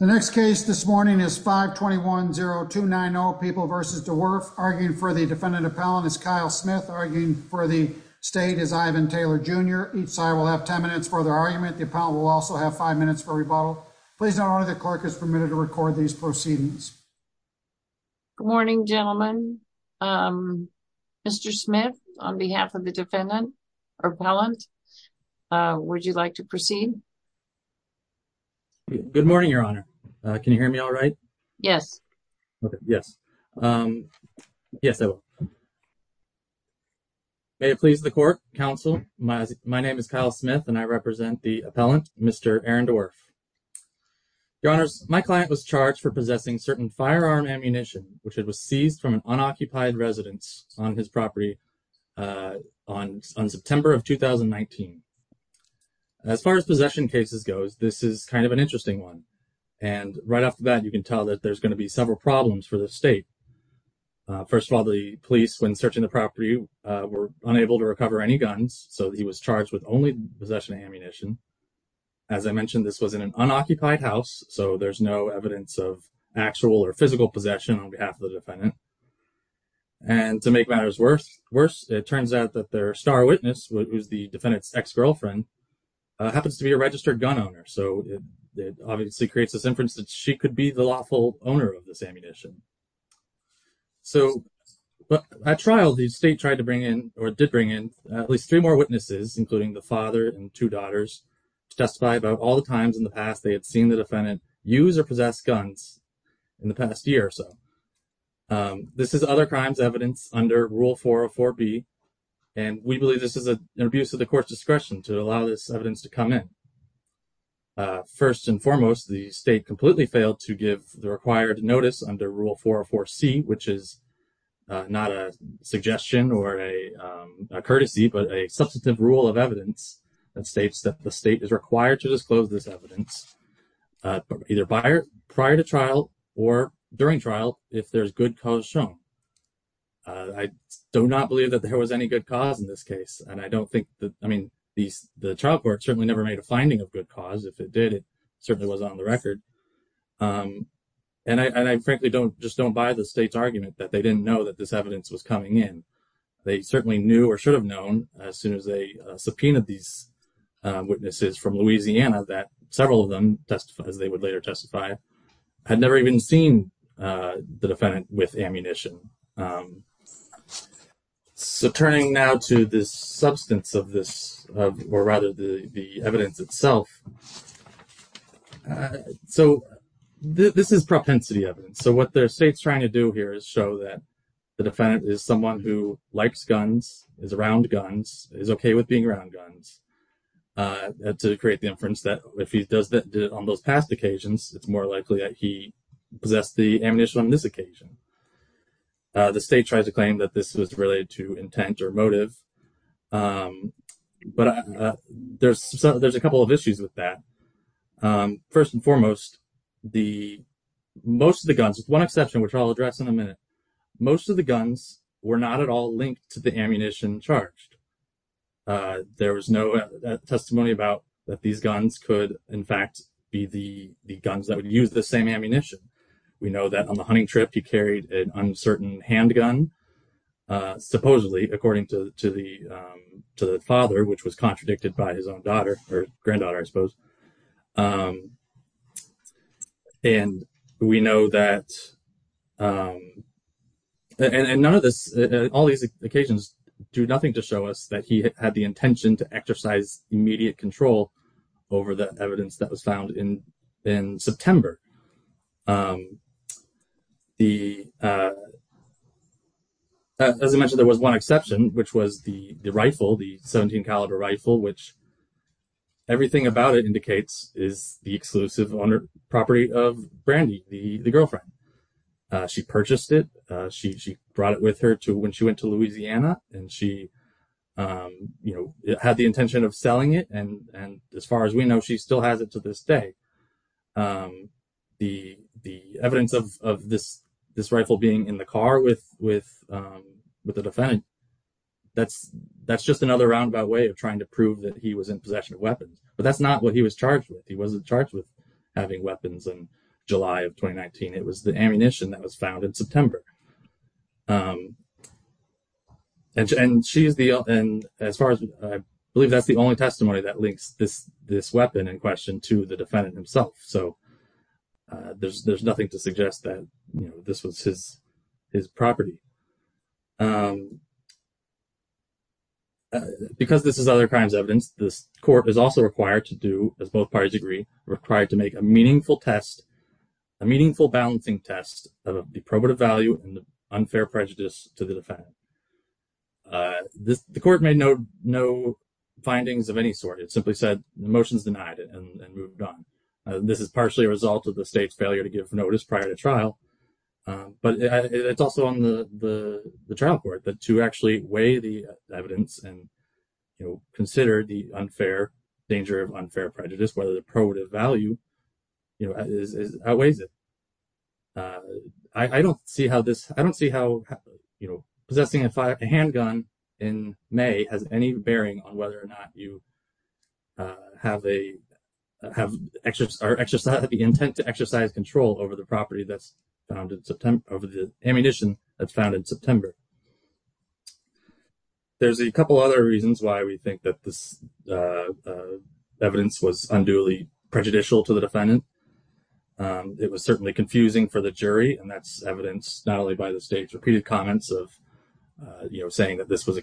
The next case this morning is 521-0290 People v. Dewerff. Arguing for the defendant appellant is Kyle Smith. Arguing for the state is Ivan Taylor Jr. Each side will have 10 minutes for their argument. The appellant will also have five minutes for rebuttal. Please note the clerk is permitted to record these proceedings. Good morning gentlemen. Mr. Smith on behalf of the Can you hear me all right? Yes. Okay, yes. Yes, I will. May it please the court, counsel. My name is Kyle Smith and I represent the appellant, Mr. Aaron Dewerff. Your honors, my client was charged for possessing certain firearm ammunition which was seized from an unoccupied residence on his property on September of 2019. As far as possession cases go, this is kind of an interesting one. And right off the bat, you can tell that there's going to be several problems for the state. First of all, the police, when searching the property, were unable to recover any guns, so he was charged with only possession of ammunition. As I mentioned, this was in an unoccupied house, so there's no evidence of actual or physical possession on behalf of the defendant. And to make matters worse, it turns out that their star witness, who's the defendant's girlfriend, happens to be a registered gun owner. So it obviously creates this inference that she could be the lawful owner of this ammunition. So at trial, the state tried to bring in, or did bring in, at least three more witnesses, including the father and two daughters, to testify about all the times in the past they had seen the defendant use or possess guns in the past year or so. This is other crimes evidence under Rule 404B, and we believe this is an abuse of the court's discretion to allow this evidence to come in. First and foremost, the state completely failed to give the required notice under Rule 404C, which is not a suggestion or a courtesy, but a substantive rule of evidence that states that the state is required to disclose this evidence either prior to trial or during trial if there's good cause shown. I do not believe that there was any good cause in this case, and I don't think that, I mean, the trial court certainly never made a finding of good cause. If it did, it certainly wasn't on the record. And I frankly just don't buy the state's argument that they didn't know that this evidence was coming in. They certainly knew or should have known as soon as they subpoenaed these witnesses from Louisiana that several of them testified, as they would later testify, had never even seen the defendant with ammunition. So turning now to the substance of this, or rather the evidence itself, so this is propensity evidence. So what the state's trying to do here is show that the defendant is someone who likes guns, is around guns, is okay with being around guns, to create the inference that if he does that on those past occasions, it's more likely that he possessed the ammunition on this occasion. The state tries to claim that this was related to intent or motive, but there's a couple of issues with that. First and foremost, most of the guns, with one exception which I'll address in a minute, most of the guns were not at all linked to the ammunition charged. There was no testimony about that these guns could, in fact, be the guns that would use the same ammunition. We know that on the hunting trip, he carried an uncertain handgun, supposedly, according to the father, which was contradicted by his own daughter or granddaughter, I suppose. And we know that, and none of this, all these occasions do nothing to show us that he had the intention to exercise immediate control over the evidence that was found in September. As I mentioned, there was one exception, which was the rifle, the 17 caliber rifle, which everything about it indicates is the exclusive owner property of Brandy, the girlfriend. She purchased it, she brought it with her when she went to Louisiana, and she had the intention of selling it, and as far as we know, she still has it to this day. The evidence of this rifle being in the car with the defendant, that's just another roundabout way of trying to prove that he was in possession of weapons, but that's not what he was charged with. He wasn't charged with having weapons in July of 2019. It was the ammunition that was found in September. As far as I believe, that's the only testimony that links this weapon in question to the defendant himself, so there's nothing to suggest that this was his property. Because this is other crimes evidence, this court is also required to do, as both parties agree, required to make a meaningful test, a meaningful balancing test of the probative value and the unfair prejudice to the defendant. The court made no findings of any sort. It simply said the motion is denied and moved on. This is partially a result of the state's failure to give notice prior to trial, but it's also on the trial court that to actually weigh the evidence and consider the unfair danger of unfair prejudice, whether the probative value outweighs it. I don't see how possessing a handgun in May has any bearing on whether or not you have the intent to exercise control over the ammunition that's found in September. There's a couple other reasons why we think that this evidence was unduly prejudicial to the defendant. It was certainly confusing for the jury, and that's evidenced not only by the state's repeated comments of saying that this was a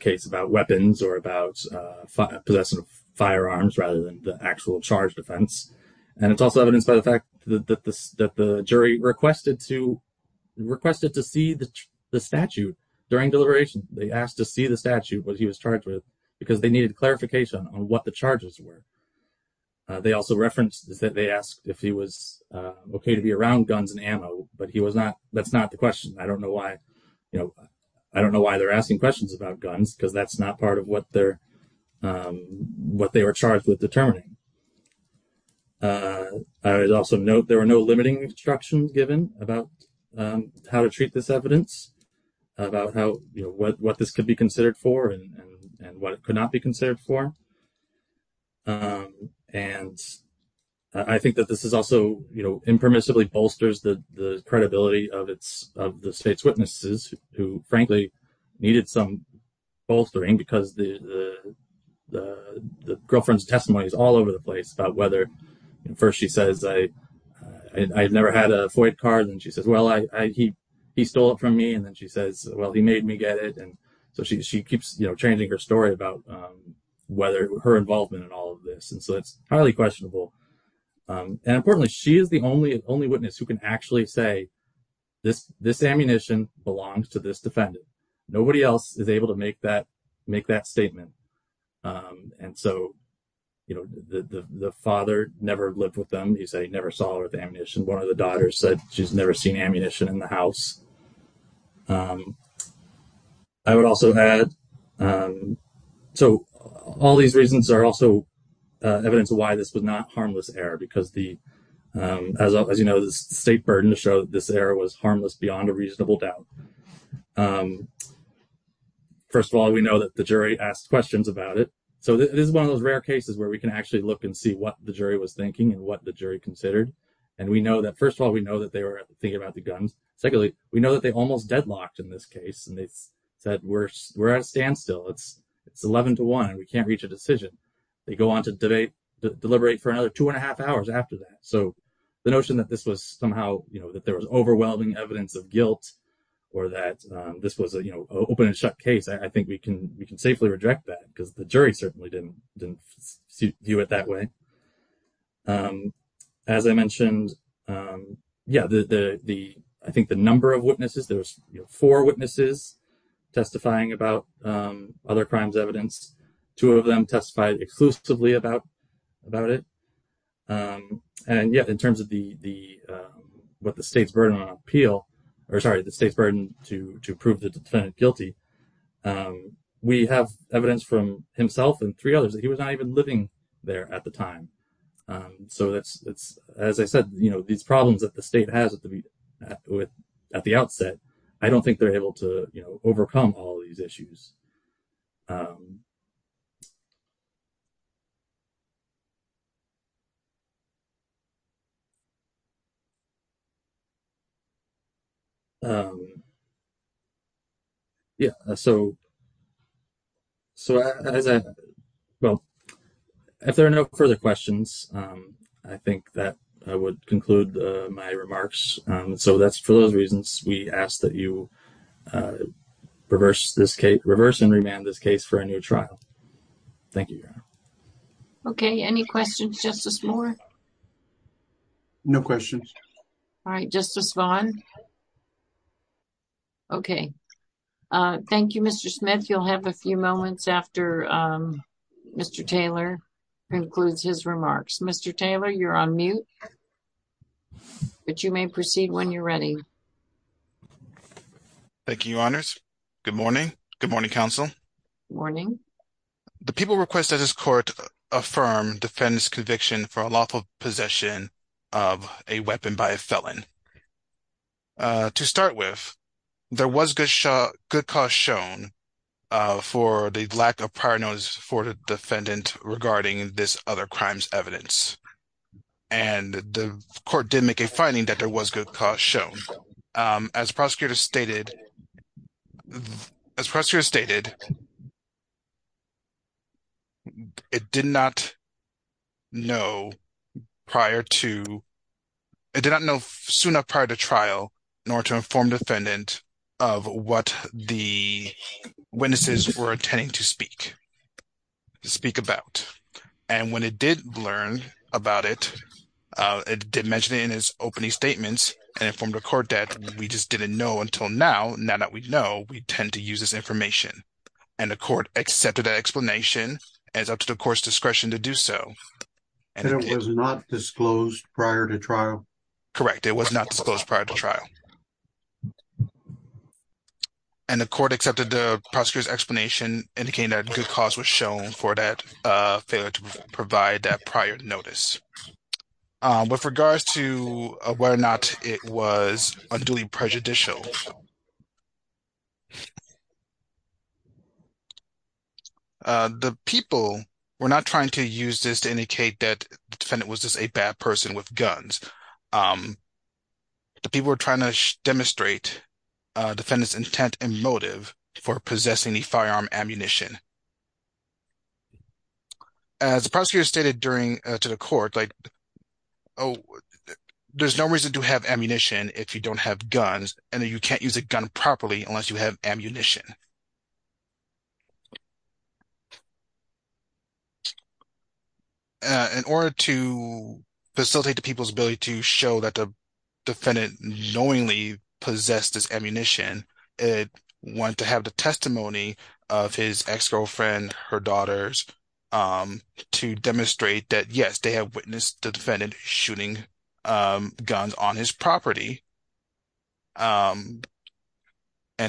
actual charged offense, and it's also evidenced by the fact that the jury requested to see the statute during deliberation. They asked to see the statute that he was charged with because they needed clarification on what the charges were. They also referenced that they asked if he was okay to be around guns and ammo, but that's not the question. I don't know why they're asking questions about guns because that's not part of what they were charged with determining. I would also note there were no limiting instructions given about how to treat this evidence, about what this could be considered for and what it could not be considered for. And I think that this also impermissibly bolsters the credibility of the state's witnesses, who frankly needed some bolstering because the girlfriend's testimony is all over the place about whether... First she says, I've never had a FOIA card. And she says, well, he stole it from me. And then she says, well, he made me get it. And so she keeps changing her story about her involvement in all of this. And so it's highly questionable. And importantly, she is the only witness who can actually say this ammunition belongs to this defendant. Nobody else is able to make that statement. And so the father never lived with them. He never saw the ammunition. One of the daughters said she's never seen ammunition in the house. I would also add... So all these reasons are also evidence of why this was not harmless error because as you know, the state burden to show this error was harmless beyond a reasonable doubt. First of all, we know that the jury asked questions about it. So this is one of those rare cases where we can actually look and see what the jury was thinking and what the jury considered. And we know that, first of all, we know that they were thinking about the guns. Secondly, we know that they almost deadlocked in this case. And they said, we're at a standstill. It's 11 to one and we can't reach a decision. They go on to deliberate for another two and a half hours after that. So the notion that this was somehow, that there was overwhelming evidence of guilt or that this was an open and shut case, I think we can safely reject that because the jury certainly didn't view it that way. As I mentioned, I think the number of witnesses, there was four witnesses testifying about other crimes evidence. Two of them testified exclusively about it. And yet in terms of what the state's burden on appeal, or sorry, the state's burden to prove the defendant guilty, we have evidence from himself and three others that he was not even living there at the time. So as I said, these problems that the state has with at the outset, I don't think they're able to overcome all these issues. Yeah. So, well, if there are no further questions, I think that I would conclude my remarks so that's for those reasons we ask that you reverse this case, reverse and remand this case for a new trial. Thank you, Your Honor. Okay. Any questions, Justice Moore? No questions. All right. Justice Vaughn. Okay. Thank you, Mr. Smith. You'll have a few moments after Mr. Taylor concludes his remarks. Mr. Taylor, you're on mute, but you may proceed when you're ready. Thank you, Your Honors. Good morning. Good morning, counsel. Morning. The people request that this court affirm defendant's conviction for a lawful possession of a weapon by a felon. To start with, there was good cause shown for the lack of prior notice for the defendant regarding this other crime's evidence. And the court did make a finding that there was good cause shown. As prosecutors stated, it did not know soon enough prior to trial in order to inform the court. And when it did learn about it, it did mention it in his opening statements and informed the court that we just didn't know until now. Now that we know, we tend to use this information. And the court accepted that explanation as up to the court's discretion to do so. And it was not disclosed prior to trial? Correct. It was not disclosed prior to trial. And the court accepted the prosecutor's explanation indicating that good cause was shown for that failure to provide that prior notice. With regards to whether or not it was unduly prejudicial, the people were not trying to use this to indicate that the defendant was just a bad person with guns. The people were trying to demonstrate defendant's intent and motive for possessing the firearm ammunition. As prosecutors stated to the court, there's no reason to have ammunition if you don't have guns and you can't use a gun properly unless you have ammunition. In order to facilitate the people's ability to show that the defendant knowingly possessed this ammunition, it went to have the testimony of his ex-girlfriend, her daughters, to demonstrate that, yes, they have witnessed the defendant shooting guns on his property. And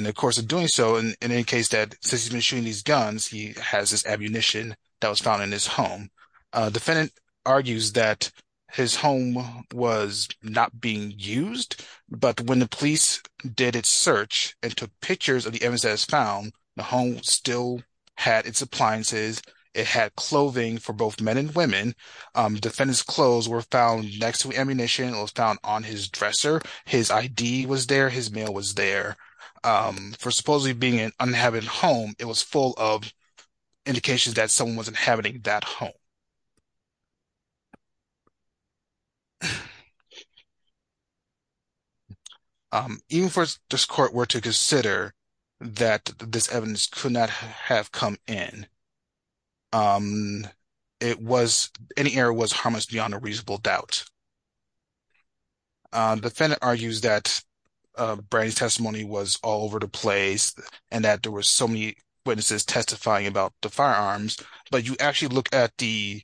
of course, in doing so, in any case that since he's been shooting these guns, he has this ammunition that was found in his home. Defendant argues that his home was not being used, but when the police did its search and took pictures of the evidence that was found, the home still had its appliances. It had clothing for both men and women. Defendant's clothes were found next to ammunition. It was found on his dresser. His ID was there. His mail was there. For supposedly being an uninhabited home, it was full of indications that someone was inhabiting that home. Even for this court were to consider that this evidence could not have come in, it was, any error was harmless beyond a reasonable doubt. Defendant argues that Brady's testimony was all over the place and that there were so many testifying about the firearms, but you actually look at the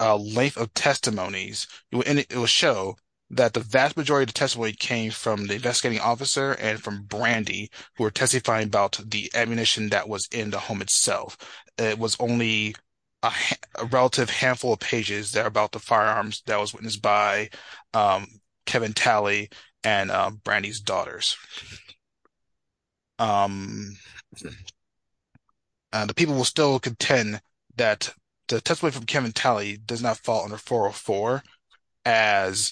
length of testimonies, it will show that the vast majority of the testimony came from the investigating officer and from Brandy, who were testifying about the ammunition that was in the home itself. It was only a relative handful of pages that are about the firearms that was witnessed by Kevin Talley and Brandy's testimony. The people will still contend that the testimony from Kevin Talley does not fall under 404 as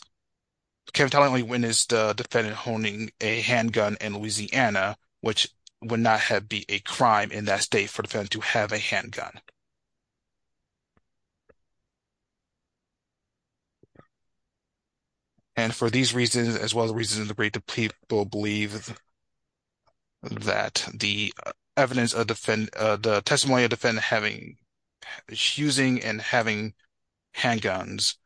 Kevin Talley only witnessed the defendant holding a handgun in Louisiana, which would not have been a crime in that state for the defendant to have a handgun. And for these reasons, as well as the reason the people believe that the testimony of the defendant having, using and having handguns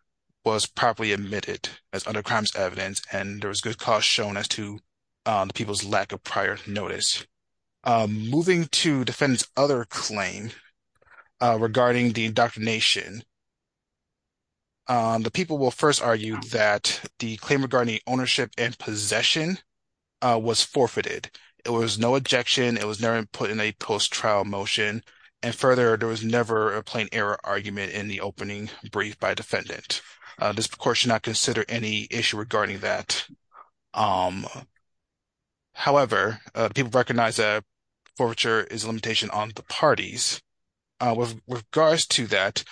was properly admitted as under crimes evidence and there was good cause shown as to the people's lack of prior notice. Moving to defendant's other claim regarding the ownership and possession was forfeited. It was no ejection. It was never put in a post-trial motion. And further, there was never a plain error argument in the opening brief by defendant. This court should not consider any issue regarding that. However, people recognize that forfeiture is a limitation on the parties. With regards to that,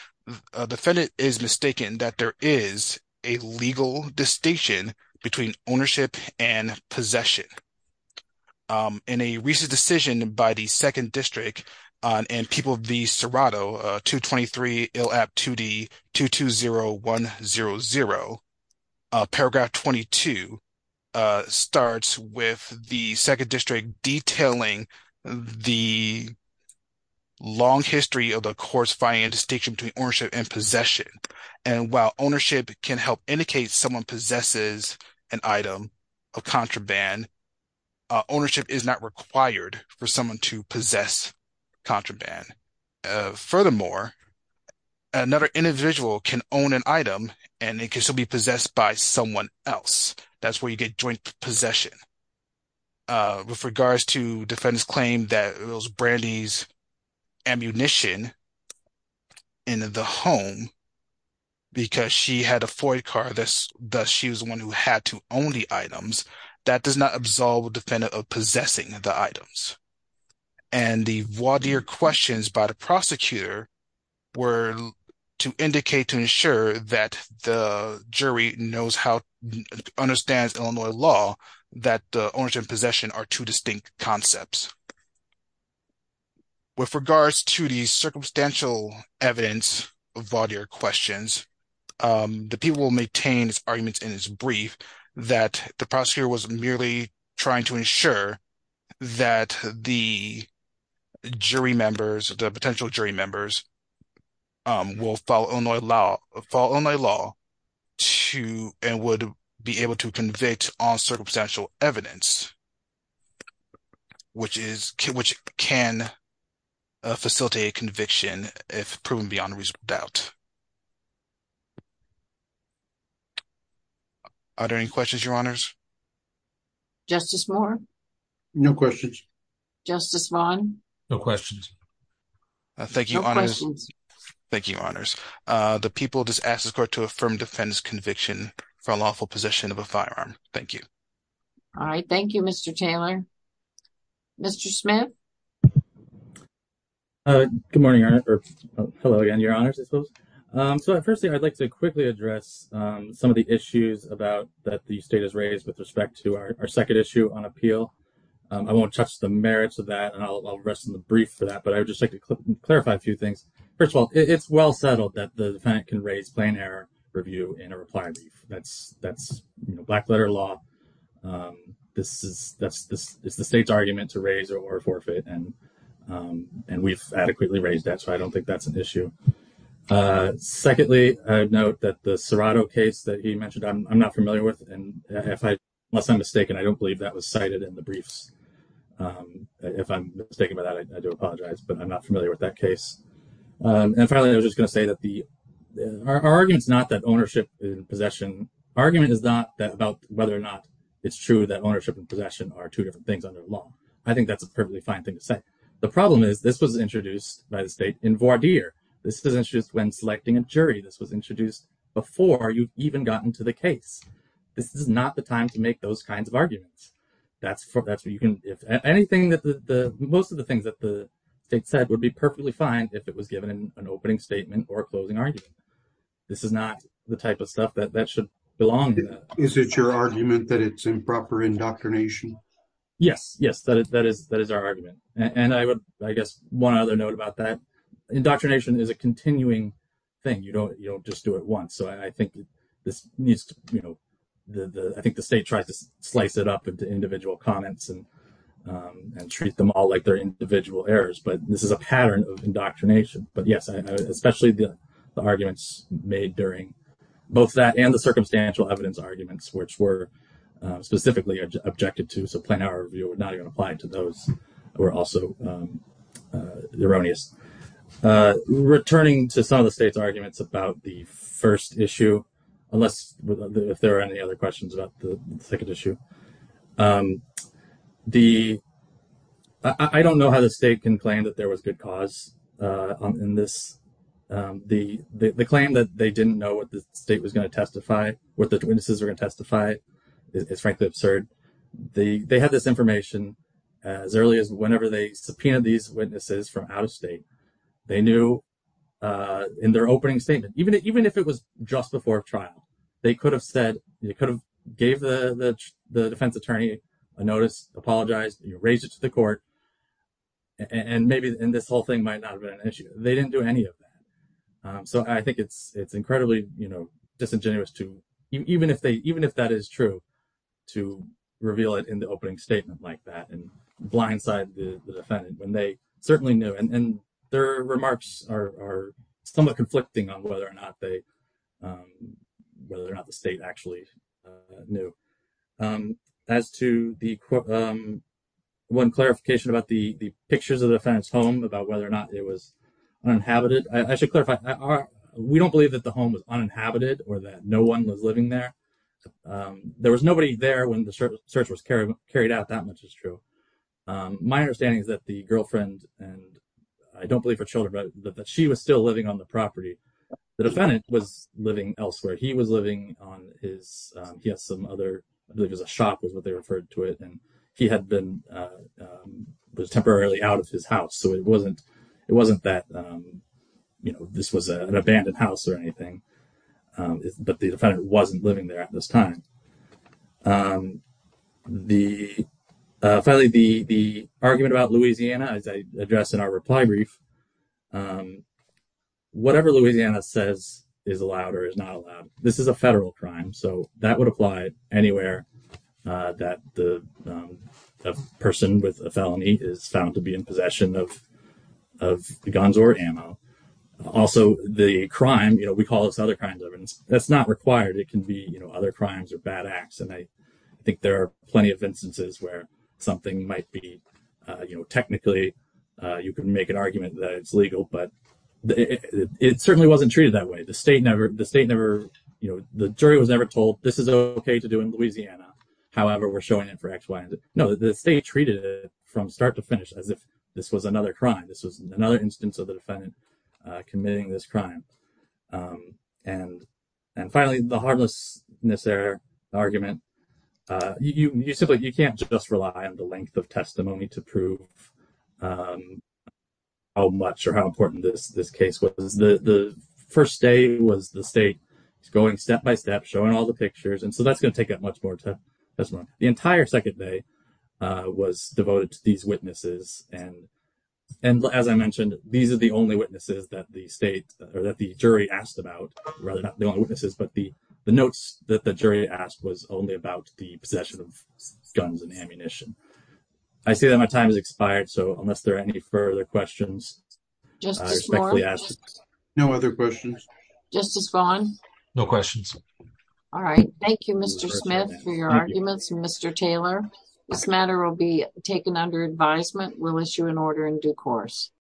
defendant is mistaken that there is a legal distinction between ownership and possession. In a recent decision by the second district and people of the Serato 223 ILAP 2D 220100, paragraph 22 starts with the second district detailing the long history of the court's finding a distinction between ownership and possession. Ownership can help indicate someone possesses an item of contraband. Ownership is not required for someone to possess contraband. Furthermore, another individual can own an item and it can still be possessed by someone else. That's where you get joint possession. With regards to defendant's claim that it was Brandy's ammunition in the home because she had a Ford car, thus she was the one who had to own the items, that does not absolve a defendant of possessing the items. And the voir dire questions by the prosecutor were to indicate to ensure that the jury knows how to understand Illinois law that to the circumstantial evidence of voir dire questions, the people will maintain arguments in its brief that the prosecutor was merely trying to ensure that the jury members, the potential jury members will follow Illinois law and would be able to convict on circumstantial evidence which can facilitate conviction if proven beyond reasonable doubt. Are there any questions, your honors? Justice Moore? No questions. Justice Vaughn? No questions. Thank you, your honors. The people just ask the court to affirm defendant's conviction for lawful possession of a firearm. Thank you. Thank you, Mr. Taylor. Mr. Smith? Good morning, your honors. I'd like to quickly address some of the issues that the state has raised with respect to our second issue on appeal. I won't touch the merits of that, and I'll rest in the brief for that, but I would just like to clarify a few things. First of all, it's well settled that the defendant can raise plain error review in a reply brief. That's black letter law. It's the state's argument to raise or forfeit, and we've adequately raised that, so I don't think that's an issue. Secondly, I'd note that the Serrato case that he mentioned, I'm not familiar with, and unless I'm mistaken, I don't believe that was cited in the briefs. If I'm mistaken about that, I do apologize, but I'm not familiar with that case. And finally, I was just going to say that our argument is not about whether or not it's true that ownership and possession are two different things under law. I think that's a perfectly fine thing to say. The problem is this was introduced by the state in voir dire. This was introduced when selecting a jury. This was introduced before you even got into the case. This is not the time to make those kinds of arguments. Most of the things that the state said would be perfectly fine if it was given an opening statement or a closing argument. This is not the type of stuff that should belong to that. Is it your argument that it's improper indoctrination? Yes, that is our argument, and I guess one other note about that, indoctrination is a continuing thing. You don't just do it once, so I think the state tries to slice it up into individual comments and treat them all like they're individual errors, but this is a pattern of indoctrination. But yes, especially the arguments made during both that and the circumstantial evidence arguments, which were specifically objected to, so plain our review would not even apply to those who are also erroneous. Returning to some of the state's arguments about the first issue, unless if there are any other questions about the second issue, I don't know how the state can claim that there was good cause in this. The claim that they didn't know what the state was going to testify, what the witnesses were going to testify, is frankly absurd. They had this information as early as whenever they subpoenaed these witnesses from out of state, they knew in their trial. They could have said, they could have gave the defense attorney a notice, apologized, raised it to the court, and maybe this whole thing might not have been an issue. They didn't do any of that, so I think it's incredibly disingenuous to, even if that is true, to reveal it in the opening statement like that and blindside the defendant when they certainly knew, and their whether or not the state actually knew. As to the one clarification about the pictures of the defendant's home, about whether or not it was uninhabited, I should clarify, we don't believe that the home was uninhabited or that no one was living there. There was nobody there when the search was carried out, that much is true. My understanding is that the girlfriend, and I don't he was living on his, he had some other, I believe it was a shop was what they referred to it, and he had been, was temporarily out of his house, so it wasn't that, you know, this was an abandoned house or anything, but the defendant wasn't living there at this time. Finally, the argument about Louisiana, as I addressed in our reply brief, whatever Louisiana says is allowed or is not allowed. This is a federal crime, so that would apply anywhere that the person with a felony is found to be in possession of guns or ammo. Also, the crime, you know, we call this other kinds of evidence, that's not required. It can be, you know, other crimes or bad acts, and I think there are plenty of instances where something might be, you know, technically you can make an argument that it's legal, but it certainly wasn't treated that way. The state never, the state never, you know, the jury was never told this is okay to do in Louisiana, however we're showing it for X, Y, and Z. No, the state treated it from start to finish as if this was another crime. This was another instance of the defendant committing this crime. And finally, the harmlessness error argument, you simply, you can't just rely on the length of testimony to prove how much or how important this case was. The first day was the state going step by step, showing all the pictures, and so that's going to take up much more testimony. The entire second day was devoted to these witnesses, and as I mentioned, these are the only witnesses that the state or that the jury asked about, rather not the only witnesses, but the notes that the jury asked was only about the possession of guns and ammunition. I see that my time has expired, so unless there are any further questions, I respectfully ask. No other questions. Justice Vaughn? No questions. All right. Thank you, Mr. Smith, for your arguments. Mr. Taylor, this matter will be taken under advisement. We'll issue an order in due course.